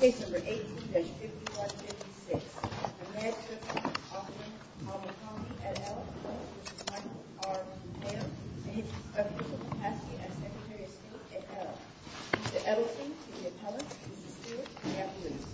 Mr. Edelstein to the appellant and Mr. Stewart to the appellant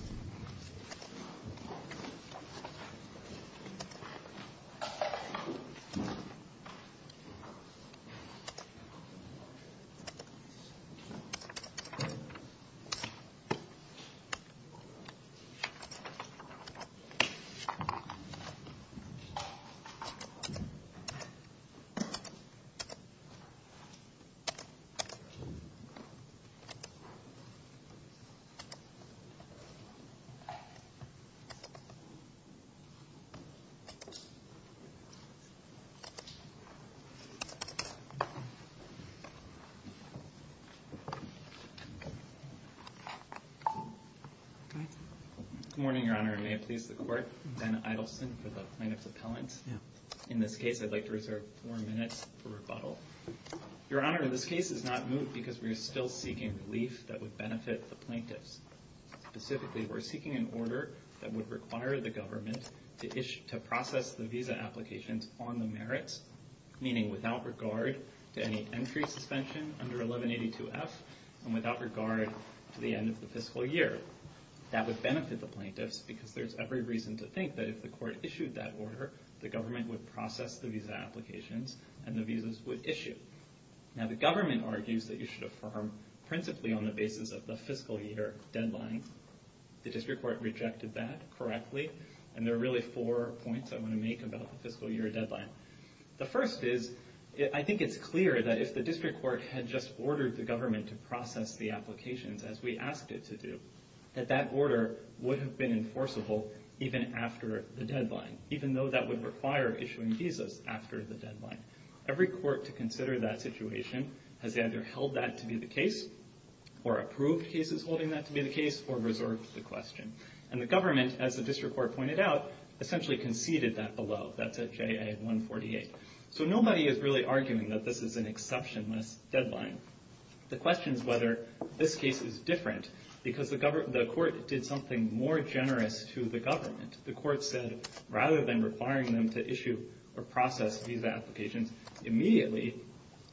Good morning, Your Honor. May it please the court. Ben Edelstein for the plaintiff's appellant. In this case, I'd like to reserve four minutes for rebuttal. Your Honor, this case is not moved because we are still seeking relief that would benefit the plaintiffs. Specifically, we're seeking an order that would require the government to process the visa applications on the merits, meaning without regard to any entry suspension under 1182F and without regard to the end of the fiscal year. That would benefit the plaintiffs because there's every reason to think that if the court issued that order, the government would process the visa applications and the visas would issue. Now, the government argues that you should affirm principally on the basis of the fiscal year deadline. The district court rejected that correctly, and there are really four points I want to make about the fiscal year deadline. The first is, I think it's clear that if the district court had just ordered the government to process the applications, as we asked it to do, that that order would have been enforceable even after the deadline, even though that would require issuing visas after the deadline. Every court to consider that situation has either held that to be the case, or approved cases holding that to be the case, or reserved the question. And the government, as the district court pointed out, essentially conceded that below. That's at JA-148. So nobody is really arguing that this is an exceptionless deadline. The question is whether this case is different because the court did something more generous to the government. The court said rather than requiring them to issue or process visa applications immediately,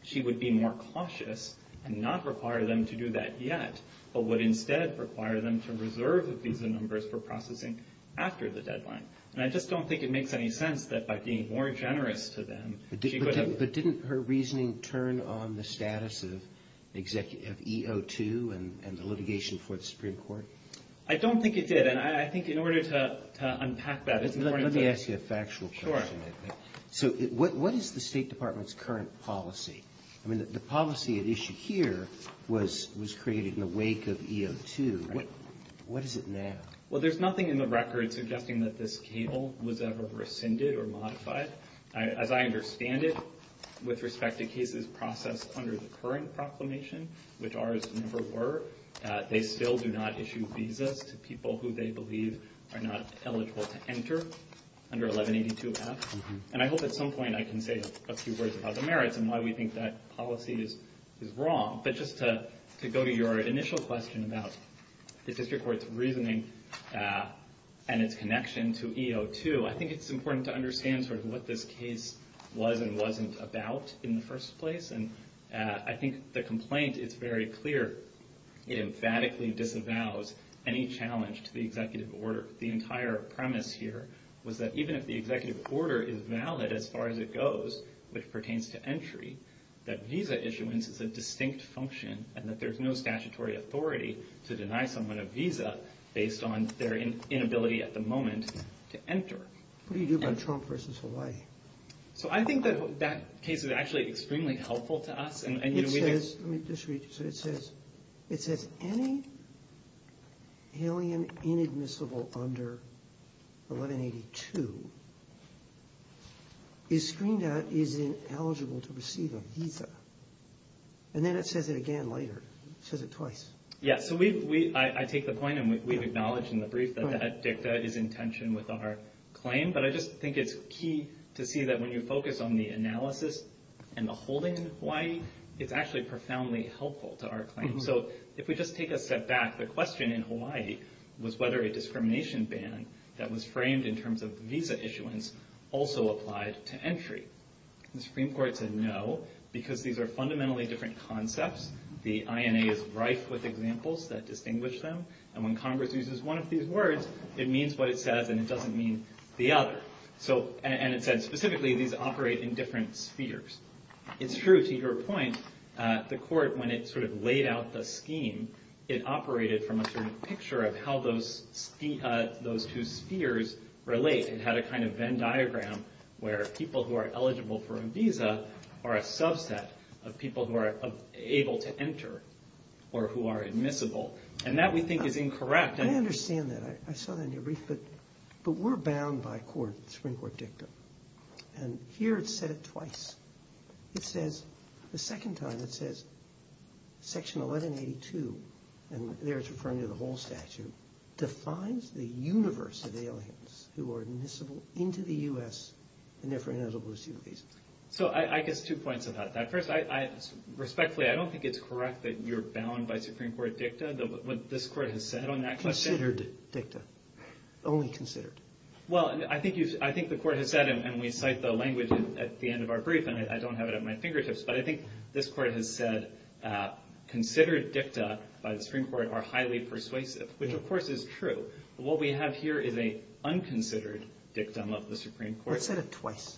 she would be more cautious and not require them to do that yet, but would instead require them to reserve the visa numbers for processing after the deadline. And I just don't think it makes any sense that by being more generous to them, she could have... But didn't her reasoning turn on the status of E02 and the litigation for the Supreme Court? I don't think it did. And I think in order to unpack that... Let me ask you a factual question. Sure. So what is the State Department's current policy? I mean, the policy at issue here was created in the wake of E02. Right. What is it now? Well, there's nothing in the record suggesting that this cable was ever rescinded or modified. As I understand it, with respect to cases processed under the current proclamation, which ours never were, they still do not issue visas to people who they believe are not eligible to enter under 1182-F. And I hope at some point I can say a few words about the merits and why we think that policy is wrong. But just to go to your initial question about the district court's reasoning and its connection to E02, I think it's important to understand sort of what this case was and wasn't about in the first place. And I think the complaint is very clear. It emphatically disavows any challenge to the executive order. The entire premise here was that even if the executive order is valid as far as it goes, which pertains to entry, that visa issuance is a distinct function and that there's no statutory authority to deny someone a visa based on their inability at the moment to enter. What do you do about Trump versus Hawaii? So I think that that case is actually extremely helpful to us. It says any alien inadmissible under 1182 is screened out as ineligible to receive a visa. And then it says it again later. It says it twice. Yeah, so I take the point, and we've acknowledged in the brief that that dicta is in tension with our claim. But I just think it's key to see that when you focus on the analysis and the holding in Hawaii, it's actually profoundly helpful to our claim. So if we just take a step back, the question in Hawaii was whether a discrimination ban that was framed in terms of visa issuance also applied to entry. The Supreme Court said no, because these are fundamentally different concepts. The INA is rife with examples that distinguish them. And when Congress uses one of these words, it means what it says, and it doesn't mean the other. And it said specifically these operate in different spheres. It's true to your point, the court, when it sort of laid out the scheme, it operated from a certain picture of how those two spheres relate. It had a kind of Venn diagram where people who are eligible for a visa are a subset of people who are able to enter or who are admissible. And that we think is incorrect. I understand that. I saw that in your brief. But we're bound by court, the Supreme Court dicta. And here it said it twice. It says the second time it says Section 1182, and there it's referring to the whole statute, defines the universe of aliens who are admissible into the U.S. and therefore ineligible to receive a visa. So I guess two points about that. First, respectfully, I don't think it's correct that you're bound by Supreme Court dicta, what this court has said on that question. Considered dicta. Only considered. Well, I think the court has said, and we cite the language at the end of our brief, and I don't have it at my fingertips, but I think this court has said considered dicta by the Supreme Court are highly persuasive, which of course is true. What we have here is an unconsidered dictum of the Supreme Court. It said it twice.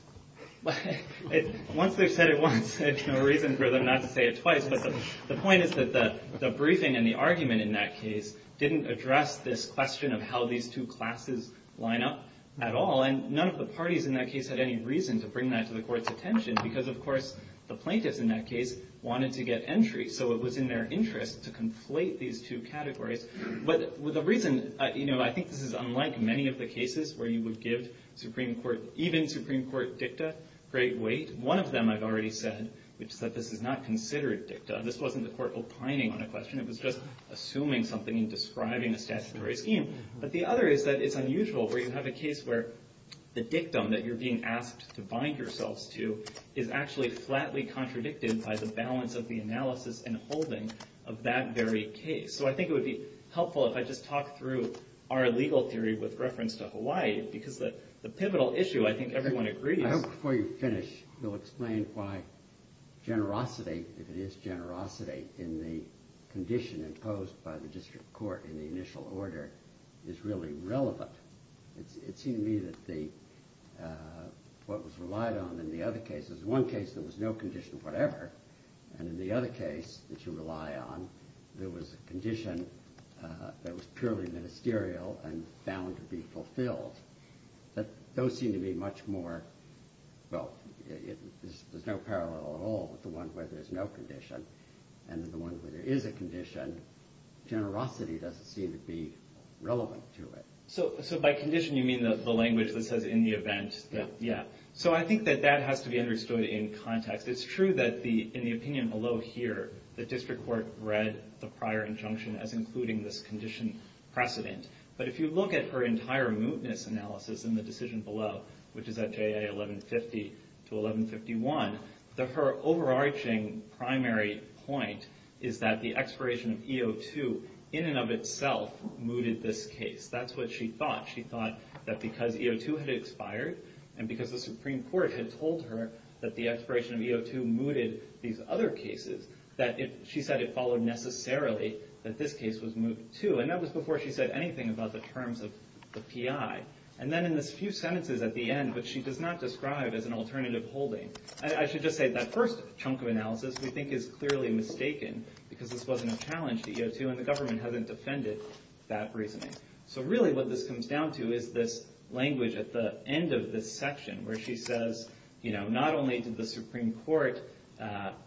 Once they've said it once, there's no reason for them not to say it twice. But the point is that the briefing and the argument in that case didn't address this question of how these two classes line up at all. And none of the parties in that case had any reason to bring that to the court's attention because, of course, the plaintiffs in that case wanted to get entry. So it was in their interest to conflate these two categories. But the reason, you know, I think this is unlike many of the cases where you would give even Supreme Court dicta great weight. One of them I've already said, which is that this is not considered dicta. This wasn't the court opining on a question. It was just assuming something and describing a statutory scheme. But the other is that it's unusual where you have a case where the dictum that you're being asked to bind yourselves to is actually flatly contradicted by the balance of the analysis and holding of that very case. So I think it would be helpful if I just talk through our legal theory with reference to Hawaii because the pivotal issue I think everyone agrees. I hope before you finish you'll explain why generosity, if it is generosity, in the condition imposed by the district court in the initial order is really relevant. It seemed to me that what was relied on in the other cases, in one case there was no condition whatever, and in the other case that you rely on there was a condition that was purely ministerial and bound to be fulfilled. Those seem to be much more, well, there's no parallel at all with the one where there's no condition. And the one where there is a condition, generosity doesn't seem to be relevant to it. So by condition you mean the language that says in the event. Yeah. So I think that that has to be understood in context. It's true that in the opinion below here the district court read the prior injunction as including this condition precedent. But if you look at her entire mootness analysis in the decision below, which is at JA 1150 to 1151, her overarching primary point is that the expiration of E02 in and of itself mooted this case. That's what she thought. She thought that because E02 had expired and because the Supreme Court had told her that the expiration of E02 mooted these other cases, that she said it followed necessarily that this case was moot too. And that was before she said anything about the terms of the PI. And then in the few sentences at the end, which she does not describe as an alternative holding, I should just say that first chunk of analysis we think is clearly mistaken because this wasn't a challenge to E02 and the government hasn't defended that reasoning. So really what this comes down to is this language at the end of this section where she says not only did the Supreme Court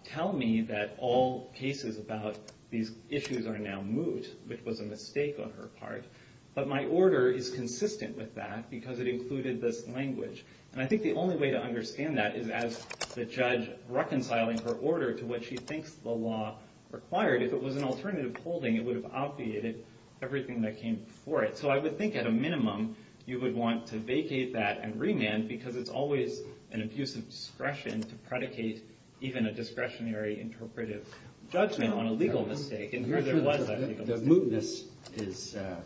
tell me that all cases about these issues are now moot, which was a mistake on her part, but my order is consistent with that because it included this language. And I think the only way to understand that is as the judge reconciling her order to what she thinks the law required. If it was an alternative holding, it would have obviated everything that came before it. So I would think at a minimum you would want to vacate that and remand because it's always an abuse of discretion to predicate even a discretionary interpretive judgment on a legal mistake. The mootness is a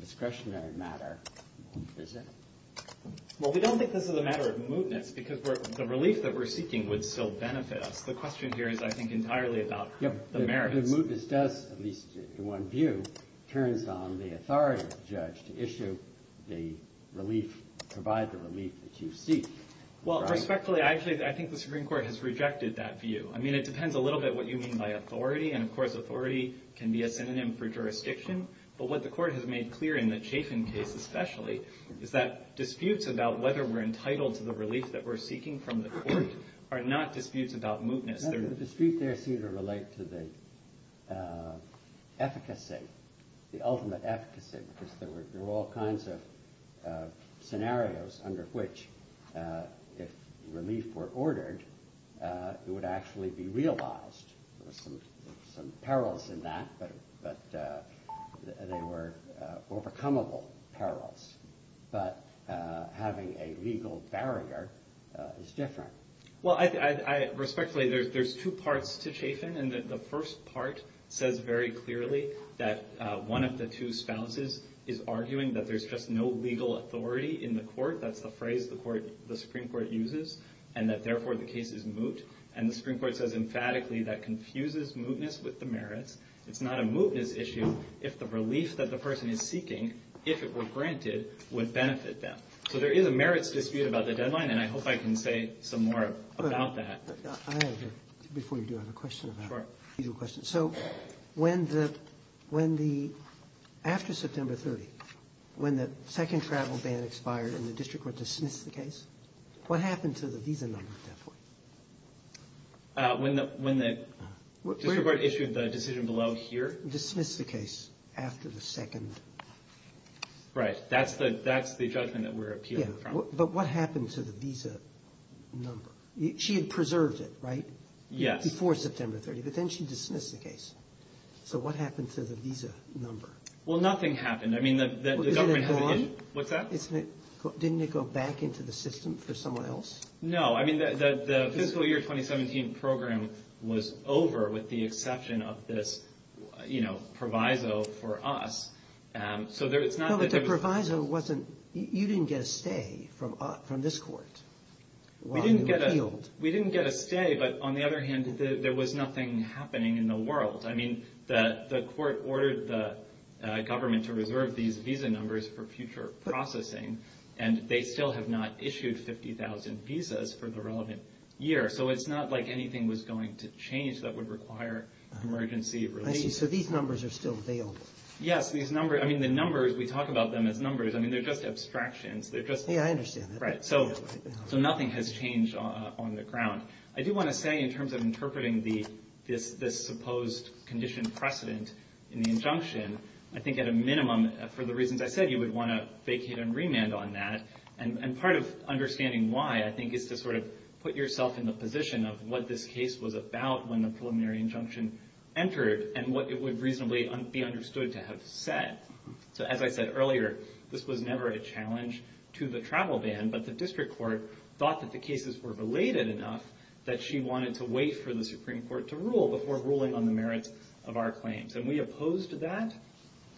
discretionary matter, is it? Well, we don't think this is a matter of mootness because the relief that we're seeking would still benefit us. The question here is, I think, entirely about the merits. The mootness does, at least in one view, turns on the authority of the judge to issue the relief, to provide the relief that you seek. Well, respectfully, I think the Supreme Court has rejected that view. I mean, it depends a little bit what you mean by authority. And, of course, authority can be a synonym for jurisdiction. But what the Court has made clear in the Chafin case especially is that disputes about whether we're entitled to the relief that we're seeking from the Court are not disputes about mootness. The dispute there seemed to relate to the efficacy, the ultimate efficacy, because there were all kinds of scenarios under which if relief were ordered, it would actually be realized. There were some perils in that, but they were overcomable perils. But having a legal barrier is different. Well, respectfully, there's two parts to Chafin. And the first part says very clearly that one of the two spouses is arguing that there's just no legal authority in the Court. That's the phrase the Supreme Court uses and that, therefore, the case is moot. And the Supreme Court says emphatically that confuses mootness with the merits. It's not a mootness issue if the relief that the person is seeking, if it were granted, would benefit them. So there is a merits dispute about the deadline, and I hope I can say some more about that. Before you do, I have a question about legal questions. So when the – after September 30, when the second travel ban expired and the district court dismissed the case, what happened to the visa number at that point? When the district court issued the decision below here? Dismissed the case after the second. Right. That's the judgment that we're appealing from. But what happened to the visa number? She had preserved it, right? Yes. Before September 30. But then she dismissed the case. So what happened to the visa number? Well, nothing happened. I mean, the government – Was it gone? What's that? Didn't it go back into the system for someone else? No. I mean, the fiscal year 2017 program was over with the exception of this, you know, proviso for us. So it's not – No, but the proviso wasn't – you didn't get a stay from this court. We didn't get a stay, but on the other hand, there was nothing happening in the world. I mean, the court ordered the government to reserve these visa numbers for future processing, and they still have not issued 50,000 visas for the relevant year. So it's not like anything was going to change that would require emergency release. I see. So these numbers are still available. Yes. These numbers – I mean, the numbers, we talk about them as numbers. I mean, they're just abstractions. They're just – So nothing has changed on the ground. I do want to say in terms of interpreting this supposed condition precedent in the injunction, I think at a minimum, for the reasons I said, you would want to vacate and remand on that. And part of understanding why, I think, is to sort of put yourself in the position of what this case was about when the preliminary injunction entered and what it would reasonably be understood to have said. So as I said earlier, this was never a challenge to the travel ban, but the district court thought that the cases were related enough that she wanted to wait for the Supreme Court to rule before ruling on the merits of our claims. And we opposed that,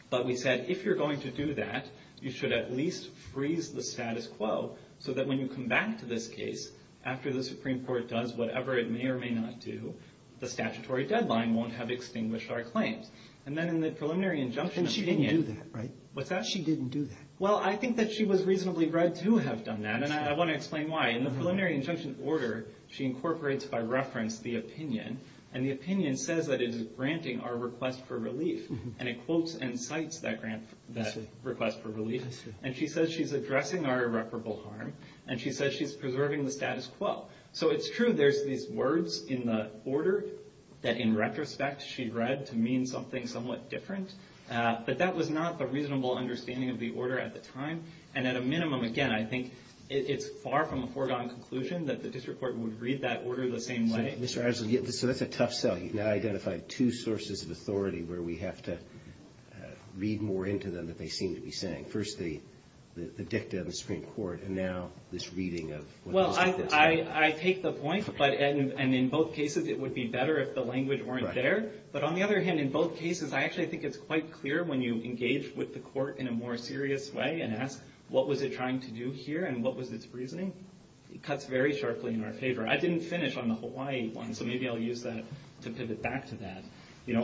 but we said, if you're going to do that, you should at least freeze the status quo so that when you come back to this case, after the Supreme Court does whatever it may or may not do, the statutory deadline won't have extinguished our claims. And then in the preliminary injunction opinion – And she didn't do that, right? What's that? She didn't do that. Well, I think that she was reasonably read to have done that, and I want to explain why. In the preliminary injunction order, she incorporates by reference the opinion, and the opinion says that it is granting our request for relief, and it quotes and cites that request for relief. And she says she's addressing our irreparable harm, and she says she's preserving the status quo. So it's true there's these words in the order that, in retrospect, she read to mean something somewhat different, but that was not the reasonable understanding of the order at the time. And at a minimum, again, I think it's far from a foregone conclusion that the district court would read that order the same way. So that's a tough sell. You've now identified two sources of authority where we have to read more into them than they seem to be saying. First, the dicta of the Supreme Court, and now this reading of what the district court said. Well, I take the point, and in both cases, it would be better if the language weren't there. But on the other hand, in both cases, I actually think it's quite clear when you engage with the court in a more serious way and ask what was it trying to do here, and what was its reasoning, it cuts very sharply in our favor. I didn't finish on the Hawaii one, so maybe I'll use that to pivot back to that.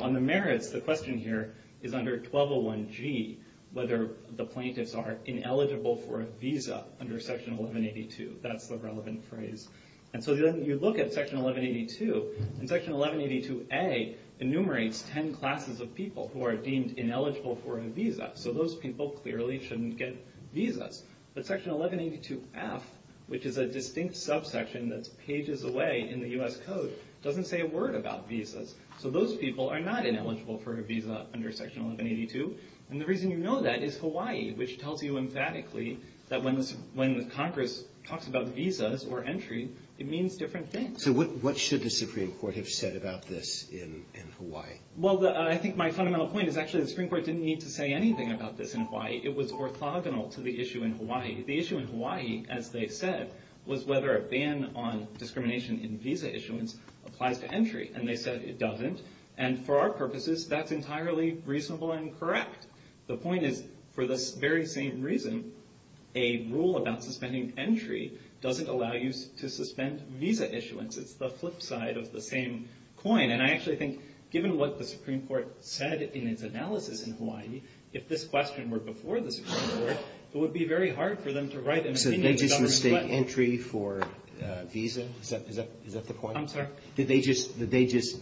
On the merits, the question here is under 1201G, whether the plaintiffs are ineligible for a visa under Section 1182. That's the relevant phrase. And so then you look at Section 1182, and Section 1182A enumerates ten classes of people who are deemed ineligible for a visa. So those people clearly shouldn't get visas. But Section 1182F, which is a distinct subsection that's pages away in the U.S. Code, doesn't say a word about visas. So those people are not ineligible for a visa under Section 1182. And the reason you know that is Hawaii, which tells you emphatically that when Congress talks about visas or entry, it means different things. So what should the Supreme Court have said about this in Hawaii? Well, I think my fundamental point is actually the Supreme Court didn't need to say anything about this in Hawaii. It was orthogonal to the issue in Hawaii. The issue in Hawaii, as they said, was whether a ban on discrimination in visa issuance applies to entry. And they said it doesn't. And for our purposes, that's entirely reasonable and correct. The point is, for this very same reason, a rule about suspending entry doesn't allow you to suspend visa issuance. It's the flip side of the same coin. And I actually think, given what the Supreme Court said in its analysis in Hawaii, if this question were before the Supreme Court, it would be very hard for them to write. So did they just mistake entry for visa? Is that the point? I'm sorry? Did they just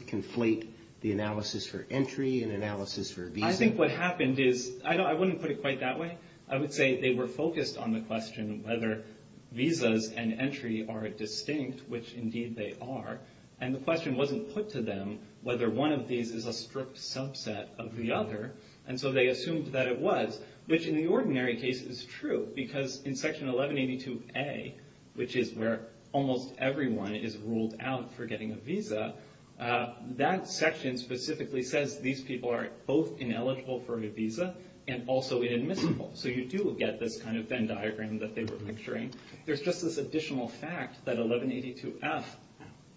conflate the analysis for entry and analysis for visa? I think what happened is, I wouldn't put it quite that way. I would say they were focused on the question whether visas and entry are distinct, which indeed they are. And the question wasn't put to them whether one of these is a strict subset of the other. And so they assumed that it was, which in the ordinary case is true. Because in Section 1182A, which is where almost everyone is ruled out for getting a visa, that section specifically says these people are both ineligible for a visa and also inadmissible. So you do get this kind of Venn diagram that they were picturing. There's just this additional fact that 1182F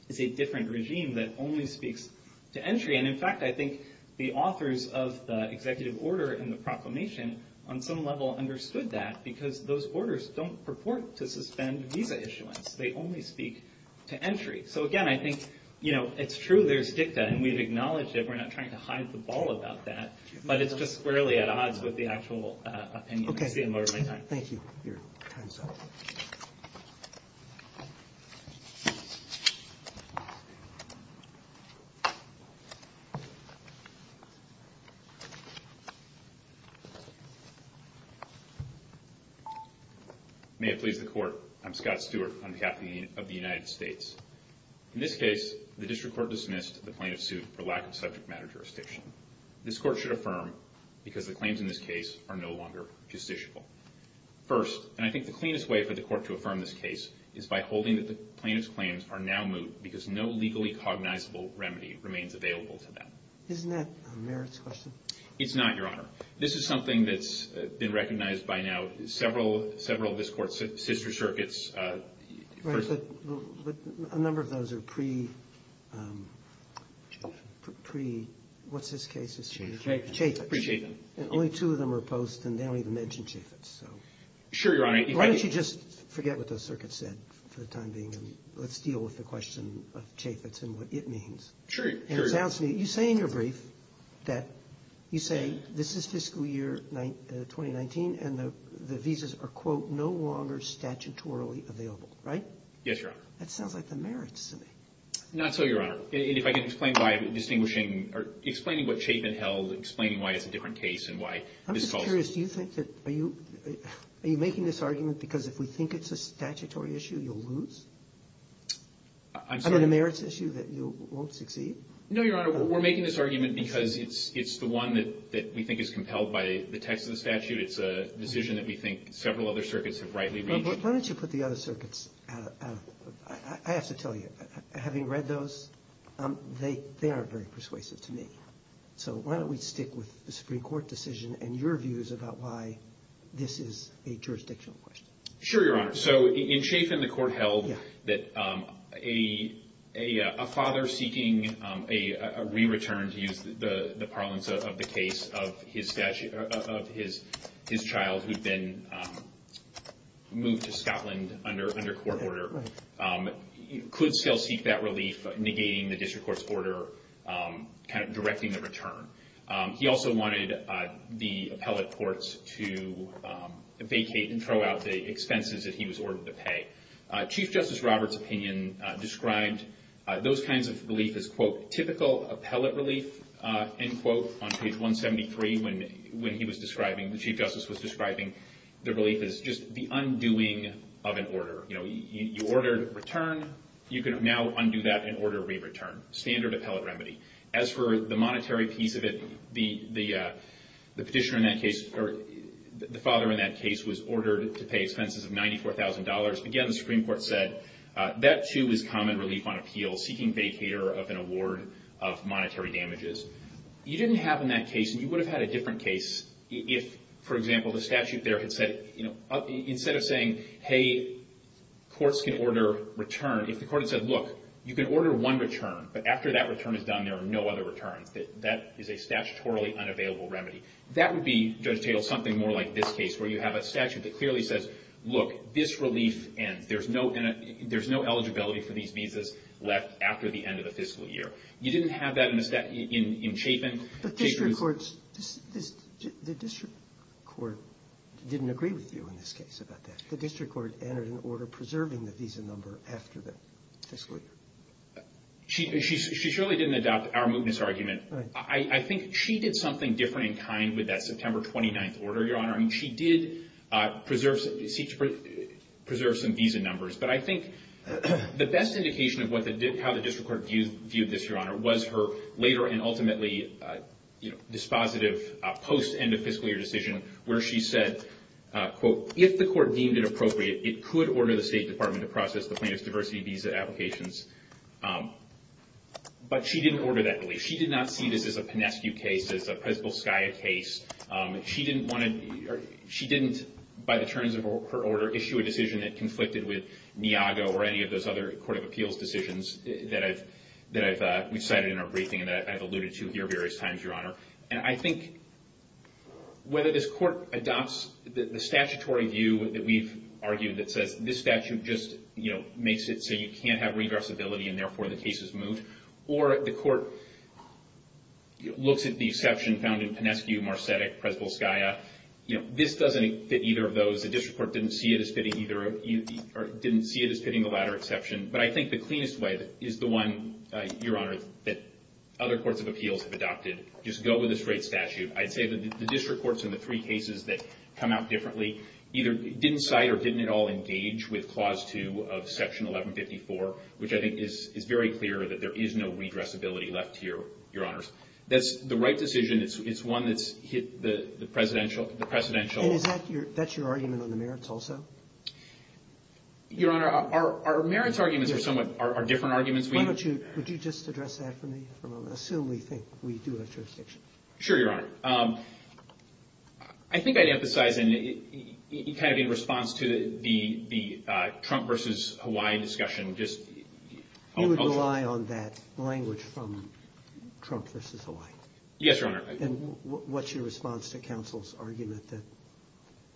is a different regime that only speaks to entry. And in fact, I think the authors of the executive order and the proclamation on some level understood that because those orders don't purport to suspend visa issuance. They only speak to entry. So again, I think it's true there's dicta. And we've acknowledged it. We're not trying to hide the ball about that. But it's just squarely at odds with the actual opinion. Thank you. May it please the court. I'm Scott Stewart on behalf of the United States. In this case, the district court dismissed the plaintiff's suit for lack of subject matter jurisdiction. This court should affirm because the claims in this case are no longer justiciable. First, and I think the cleanest way for the court to affirm this case is by holding that the plaintiff's claims are now moot because no legally cognizable remedy remains available to them. Isn't that a merits question? It's not, Your Honor. This is something that's been recognized by now several of this court's sister circuits. Right. But a number of those are pre- what's his case? Chaffetz. And only two of them are post and they don't even mention Chaffetz. Sure, Your Honor. Why don't you just forget what the circuit said for the time being and let's deal with the question of Chaffetz and what it means. Sure. You say in your brief that you say this is fiscal year 2019 and the visas are, quote, no longer statutorily available, right? Yes, Your Honor. That sounds like the merits to me. Not so, Your Honor. And if I can explain by distinguishing or explaining what statement held, explaining why it's a different case and why this calls for- I'm just curious. Do you think that- are you making this argument because if we think it's a statutory issue, you'll lose? I'm sorry? Is it a merits issue that you won't succeed? No, Your Honor. We're making this argument because it's the one that we think is compelled by the text of the statute. It's a decision that we think several other circuits have rightly reached. Why don't you put the other circuits out of- I have to tell you, having read those, they aren't very persuasive to me. So why don't we stick with the Supreme Court decision and your views about why this is a jurisdictional question? Sure, Your Honor. So in Schaffin, the court held that a father seeking a re-return, to use the parlance of the case, of his child who had been moved to Scotland under court order could still seek that relief, negating the district court's order, kind of directing the return. He also wanted the appellate courts to vacate and throw out the expenses that he was ordered to pay. Chief Justice Roberts' opinion described those kinds of relief as, quote, typical appellate relief, end quote, on page 173 when he was describing, the Chief Justice was describing the relief as just the undoing of an order. You ordered return. You can now undo that and order re-return. Standard appellate remedy. As for the monetary piece of it, the petitioner in that case, the father in that case was ordered to pay expenses of $94,000. Again, the Supreme Court said that, too, is common relief on appeal, seeking vacater of an award of monetary damages. You didn't have in that case, and you would have had a different case if, for example, the statute there had said, you know, instead of saying, hey, courts can order return, if the court had said, look, you can order one return, but after that return is done, there are no other returns, that is a statutorily unavailable remedy. That would be, Judge Tatel, something more like this case, where you have a statute that clearly says, look, this relief ends. There's no eligibility for these visas left after the end of the fiscal year. You didn't have that in Chapin. The district court didn't agree with you in this case about that. The district court entered an order preserving the visa number after the fiscal year. She surely didn't adopt our mootness argument. I think she did something different in kind with that September 29th order, Your Honor. I mean, she did preserve some visa numbers. But I think the best indication of how the district court viewed this, Your Honor, was her later and ultimately dispositive post-end of fiscal year decision, where she said, quote, if the court deemed it appropriate, it could order the State Department to process the plaintiff's diversity visa applications. But she didn't order that relief. She did not see this as a Pinescu case, as a Presidential SCIA case. She didn't, by the terms of her order, issue a decision that conflicted with Niago or any of those other court of appeals decisions that we cited in our briefing and that I've alluded to here various times, Your Honor. And I think whether this court adopts the statutory view that we've argued that says this statute just makes it so you can't have regressibility and, therefore, the case is moot, or the court looks at the exception found in Pinescu, Marcetic, Presby-SCIA, this doesn't fit either of those. The district court didn't see it as fitting the latter exception. other courts of appeals have adopted. Just go with a straight statute. I'd say that the district courts in the three cases that come out differently either didn't cite or didn't at all engage with Clause 2 of Section 1154, which I think is very clear that there is no regressibility left here, Your Honors. That's the right decision. It's one that's hit the Presidential ---- And is that your argument on the merits also? Your Honor, our merits arguments are somewhat different arguments. Would you just address that for me for a moment? Assume we think we do have jurisdiction. Sure, Your Honor. I think I'd emphasize in kind of in response to the Trump versus Hawaii discussion. You would rely on that language from Trump versus Hawaii? Yes, Your Honor. And what's your response to counsel's argument that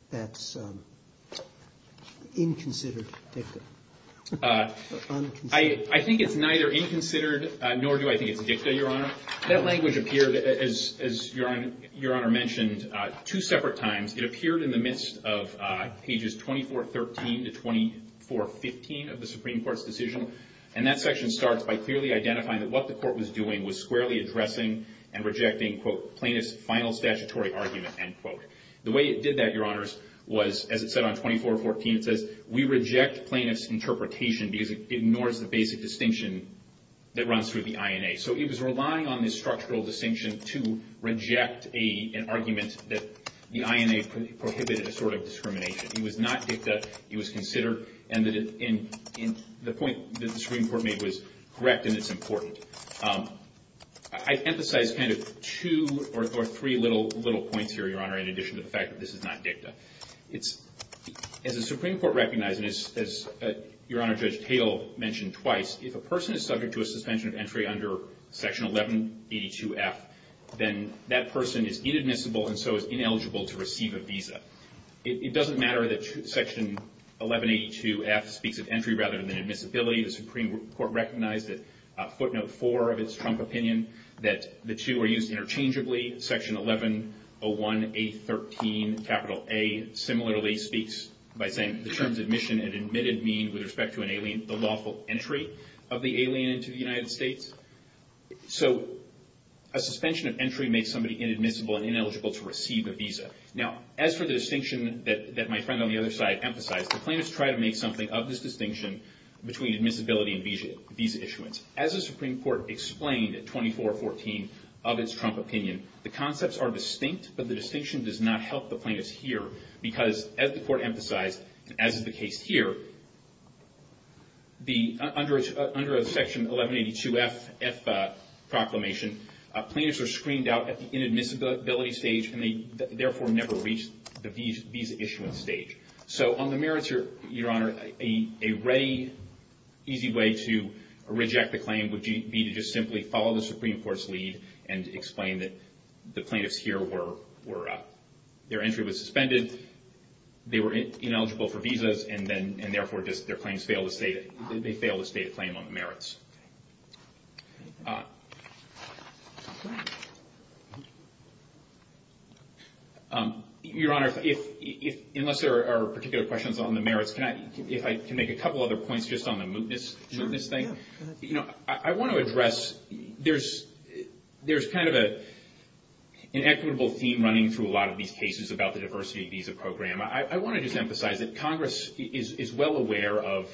that's inconsidered dictum? I think it's neither inconsidered nor do I think it's dictum, Your Honor. That language appeared, as Your Honor mentioned, two separate times. It appeared in the midst of Pages 2413 to 2415 of the Supreme Court's decision, and that section starts by clearly identifying that what the court was doing was squarely addressing and rejecting, quote, plaintiff's final statutory argument, end quote. The way it did that, Your Honors, was, as it said on 2414, it says, we reject plaintiff's interpretation because it ignores the basic distinction that runs through the INA. So it was relying on this structural distinction to reject an argument that the INA prohibited a sort of discrimination. It was not dicta. It was considered. And the point that the Supreme Court made was correct, and it's important. I'd emphasize kind of two or three little points here, Your Honor, in addition to the fact that this is not dicta. As the Supreme Court recognized, and as Your Honor, Judge Thale mentioned twice, if a person is subject to a suspension of entry under Section 1182F, then that person is inadmissible and so is ineligible to receive a visa. It doesn't matter that Section 1182F speaks of entry rather than admissibility. The Supreme Court recognized at footnote four of its Trump opinion that the two are used interchangeably. Section 1101A13A similarly speaks by saying, the terms admission and admitted mean, with respect to an alien, the lawful entry of the alien into the United States. So a suspension of entry makes somebody inadmissible and ineligible to receive a visa. Now, as for the distinction that my friend on the other side emphasized, the plaintiffs try to make something of this distinction between admissibility and visa issuance. As the Supreme Court explained at 2414 of its Trump opinion, the concepts are distinct, but the distinction does not help the plaintiffs here because, as the Court emphasized, as is the case here, under Section 1182F proclamation, plaintiffs are screened out at the inadmissibility stage and they therefore never reach the visa issuance stage. So on the merits, Your Honor, a ready, easy way to reject the claim would be to just simply follow the Supreme Court's lead and explain that the plaintiffs here were, their entry was suspended, they were ineligible for visas, and therefore their claims fail to state a claim on the merits. Your Honor, unless there are particular questions on the merits, if I can make a couple other points just on the mootness thing. You know, I want to address, there's kind of an equitable theme running through a lot of these cases about the diversity visa program. I want to just emphasize that Congress is well aware of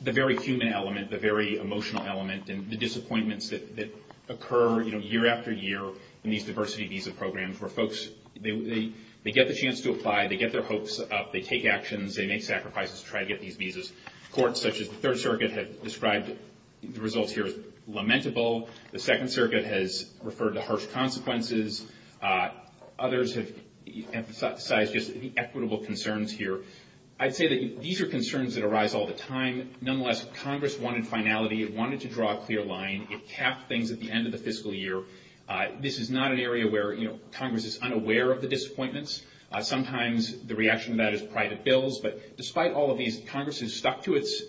the very human element, the very emotional element, and the disappointments that occur year after year in these diversity visa programs where folks, they get the chance to apply, they get their hopes up, they take actions, they make sacrifices to try to get these visas. Courts such as the Third Circuit have described the results here as lamentable. The Second Circuit has referred to harsh consequences. Others have emphasized just the equitable concerns here. I'd say that these are concerns that arise all the time. Nonetheless, Congress wanted finality. It wanted to draw a clear line. It capped things at the end of the fiscal year. This is not an area where Congress is unaware of the disappointments. Sometimes the reaction to that is private bills. But despite all of these, Congress has stuck to its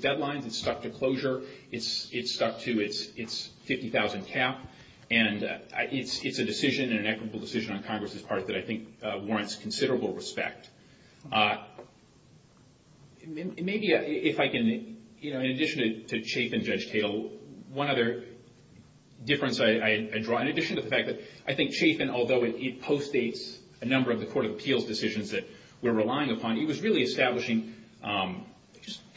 deadlines. It's stuck to closure. It's stuck to its $50,000 cap. And it's a decision, an equitable decision on Congress's part, that I think warrants considerable respect. Maybe if I can, in addition to Chafin, Judge Tatel, one other difference I draw, in addition to the fact that I think Chafin, although it postdates a number of the Court of Appeals decisions that we're relying upon, it was really establishing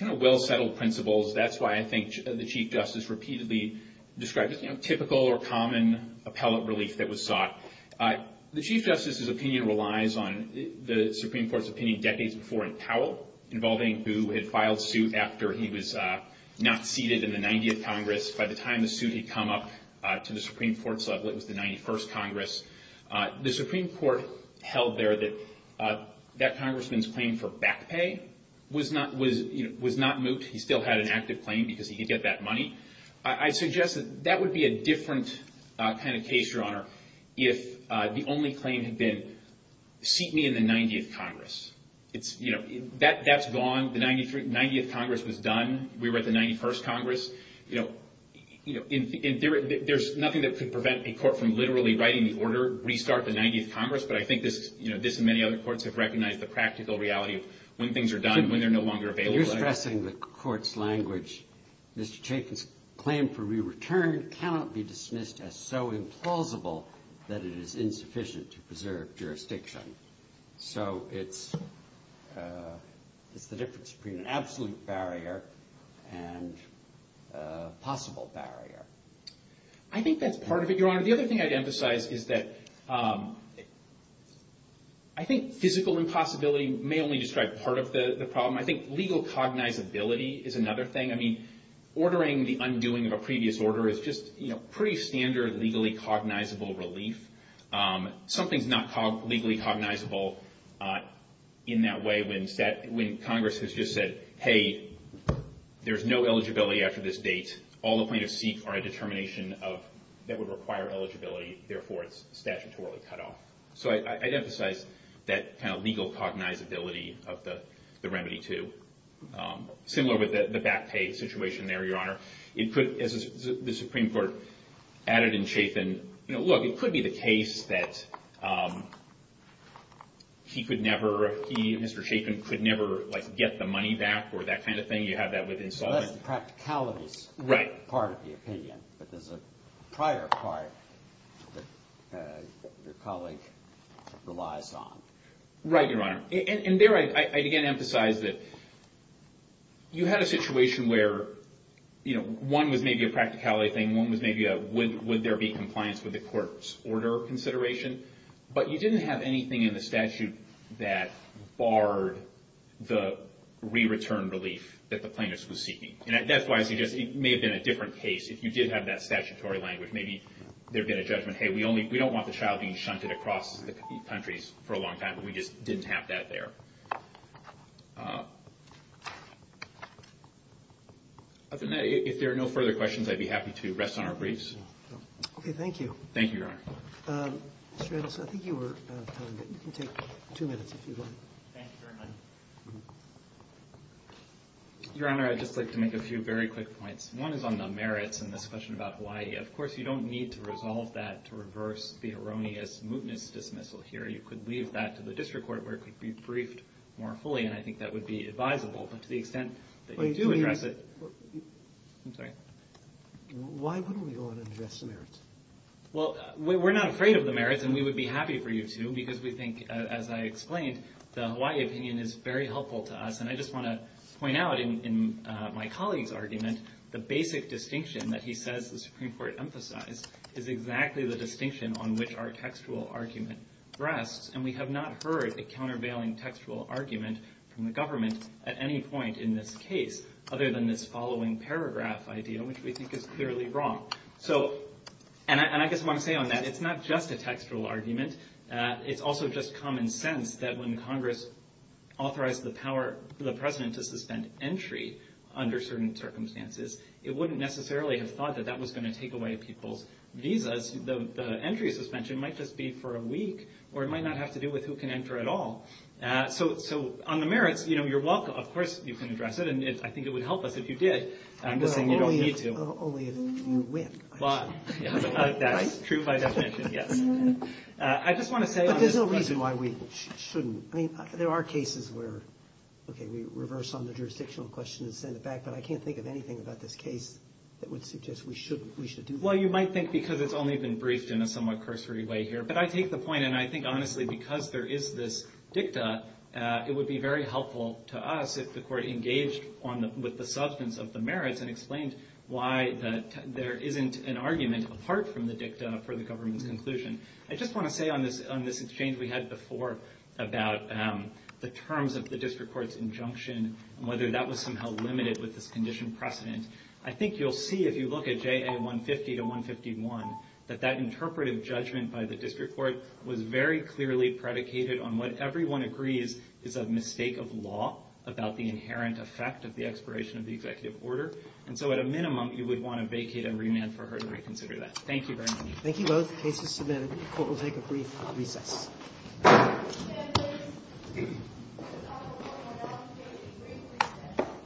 well-settled principles. That's why I think the Chief Justice repeatedly described typical or common appellate relief that was sought. The Chief Justice's opinion relies on the Supreme Court's opinion decades before in Powell, involving who had filed suit after he was not seated in the 90th Congress. By the time the suit had come up to the Supreme Court's level, it was the 91st Congress. The Supreme Court held there that that congressman's claim for back pay was not moot. He still had an active claim because he could get that money. I suggest that that would be a different kind of case, Your Honor, if the only claim had been, seat me in the 90th Congress. That's gone. The 90th Congress was done. We were at the 91st Congress. There's nothing that could prevent a court from literally writing the order, restart the 90th Congress, but I think this and many other courts have recognized the practical reality of when things are done, when they're no longer available. When you're stressing the court's language, Mr. Chafin's claim for re-return cannot be dismissed as so implausible that it is insufficient to preserve jurisdiction. So it's the difference between an absolute barrier and a possible barrier. I think that's part of it, Your Honor. The other thing I'd emphasize is that I think physical impossibility may only describe part of the problem. I think legal cognizability is another thing. Ordering the undoing of a previous order is just pretty standard legally cognizable relief. Something's not legally cognizable in that way when Congress has just said, hey, there's no eligibility after this date. All the plaintiffs seek are a determination that would require eligibility. Therefore, it's statutorily cut off. So I'd emphasize that kind of legal cognizability of the remedy, too. Similar with the back pay situation there, Your Honor. As the Supreme Court added in Chafin, look, it could be the case that he could never, he, Mr. Chafin, could never get the money back or that kind of thing. You have that with insolvency. Unless the practicality is part of the opinion. But there's a prior part that your colleague relies on. Right, Your Honor. And there I'd again emphasize that you had a situation where one was maybe a practicality thing. One was maybe a would there be compliance with the court's order consideration. But you didn't have anything in the statute that barred the re-return relief that the plaintiff was seeking. And that's why I suggest it may have been a different case. If you did have that statutory language, maybe there had been a judgment, hey, we don't want the child being shunted across the countries for a long time. We just didn't have that there. Other than that, if there are no further questions, I'd be happy to rest on our briefs. Okay, thank you. Thank you, Your Honor. Mr. Anderson, I think you were out of time, but you can take two minutes if you want. Thank you very much. Your Honor, I'd just like to make a few very quick points. One is on the merits in this question about Hawaii. Of course, you don't need to resolve that to reverse the erroneous mootness dismissal here. You could leave that to the district court where it could be briefed more fully, and I think that would be advisable. But to the extent that you do address it – I'm sorry. Why wouldn't we go in and address the merits? Well, we're not afraid of the merits, and we would be happy for you to, because we think, as I explained, the Hawaii opinion is very helpful to us. And I just want to point out in my colleague's argument, the basic distinction that he says the Supreme Court emphasized is exactly the distinction on which our textual argument rests. And we have not heard a countervailing textual argument from the government at any point in this case other than this following paragraph idea, which we think is clearly wrong. And I just want to say on that it's not just a textual argument. It's also just common sense that when Congress authorized the power of the president to suspend entry under certain circumstances, it wouldn't necessarily have thought that that was going to take away people's visas. The entry suspension might just be for a week, or it might not have to do with who can enter at all. So on the merits, you're welcome. Of course you can address it, and I think it would help us if you did. I'm just saying you don't need to. Only if you win, I'm sure. True by definition, yes. But there's no reason why we shouldn't. I mean, there are cases where, okay, we reverse on the jurisdictional question and send it back, but I can't think of anything about this case that would suggest we should do that. Well, you might think because it's only been briefed in a somewhat cursory way here. But I take the point, and I think honestly because there is this dicta, it would be very helpful to us if the court engaged with the substance of the merits and explained why there isn't an argument apart from the dicta for the government's conclusion. I just want to say on this exchange we had before about the terms of the district court's injunction and whether that was somehow limited with this condition precedent, I think you'll see if you look at JA 150 to 151 that that interpretive judgment by the district court was very clearly predicated on what everyone agrees is a mistake of law about the inherent effect of the expiration of the executive order. And so at a minimum, you would want to vacate and remand for her to reconsider that. Thank you very much. Thank you both. Case is submitted. Court will take a brief recess.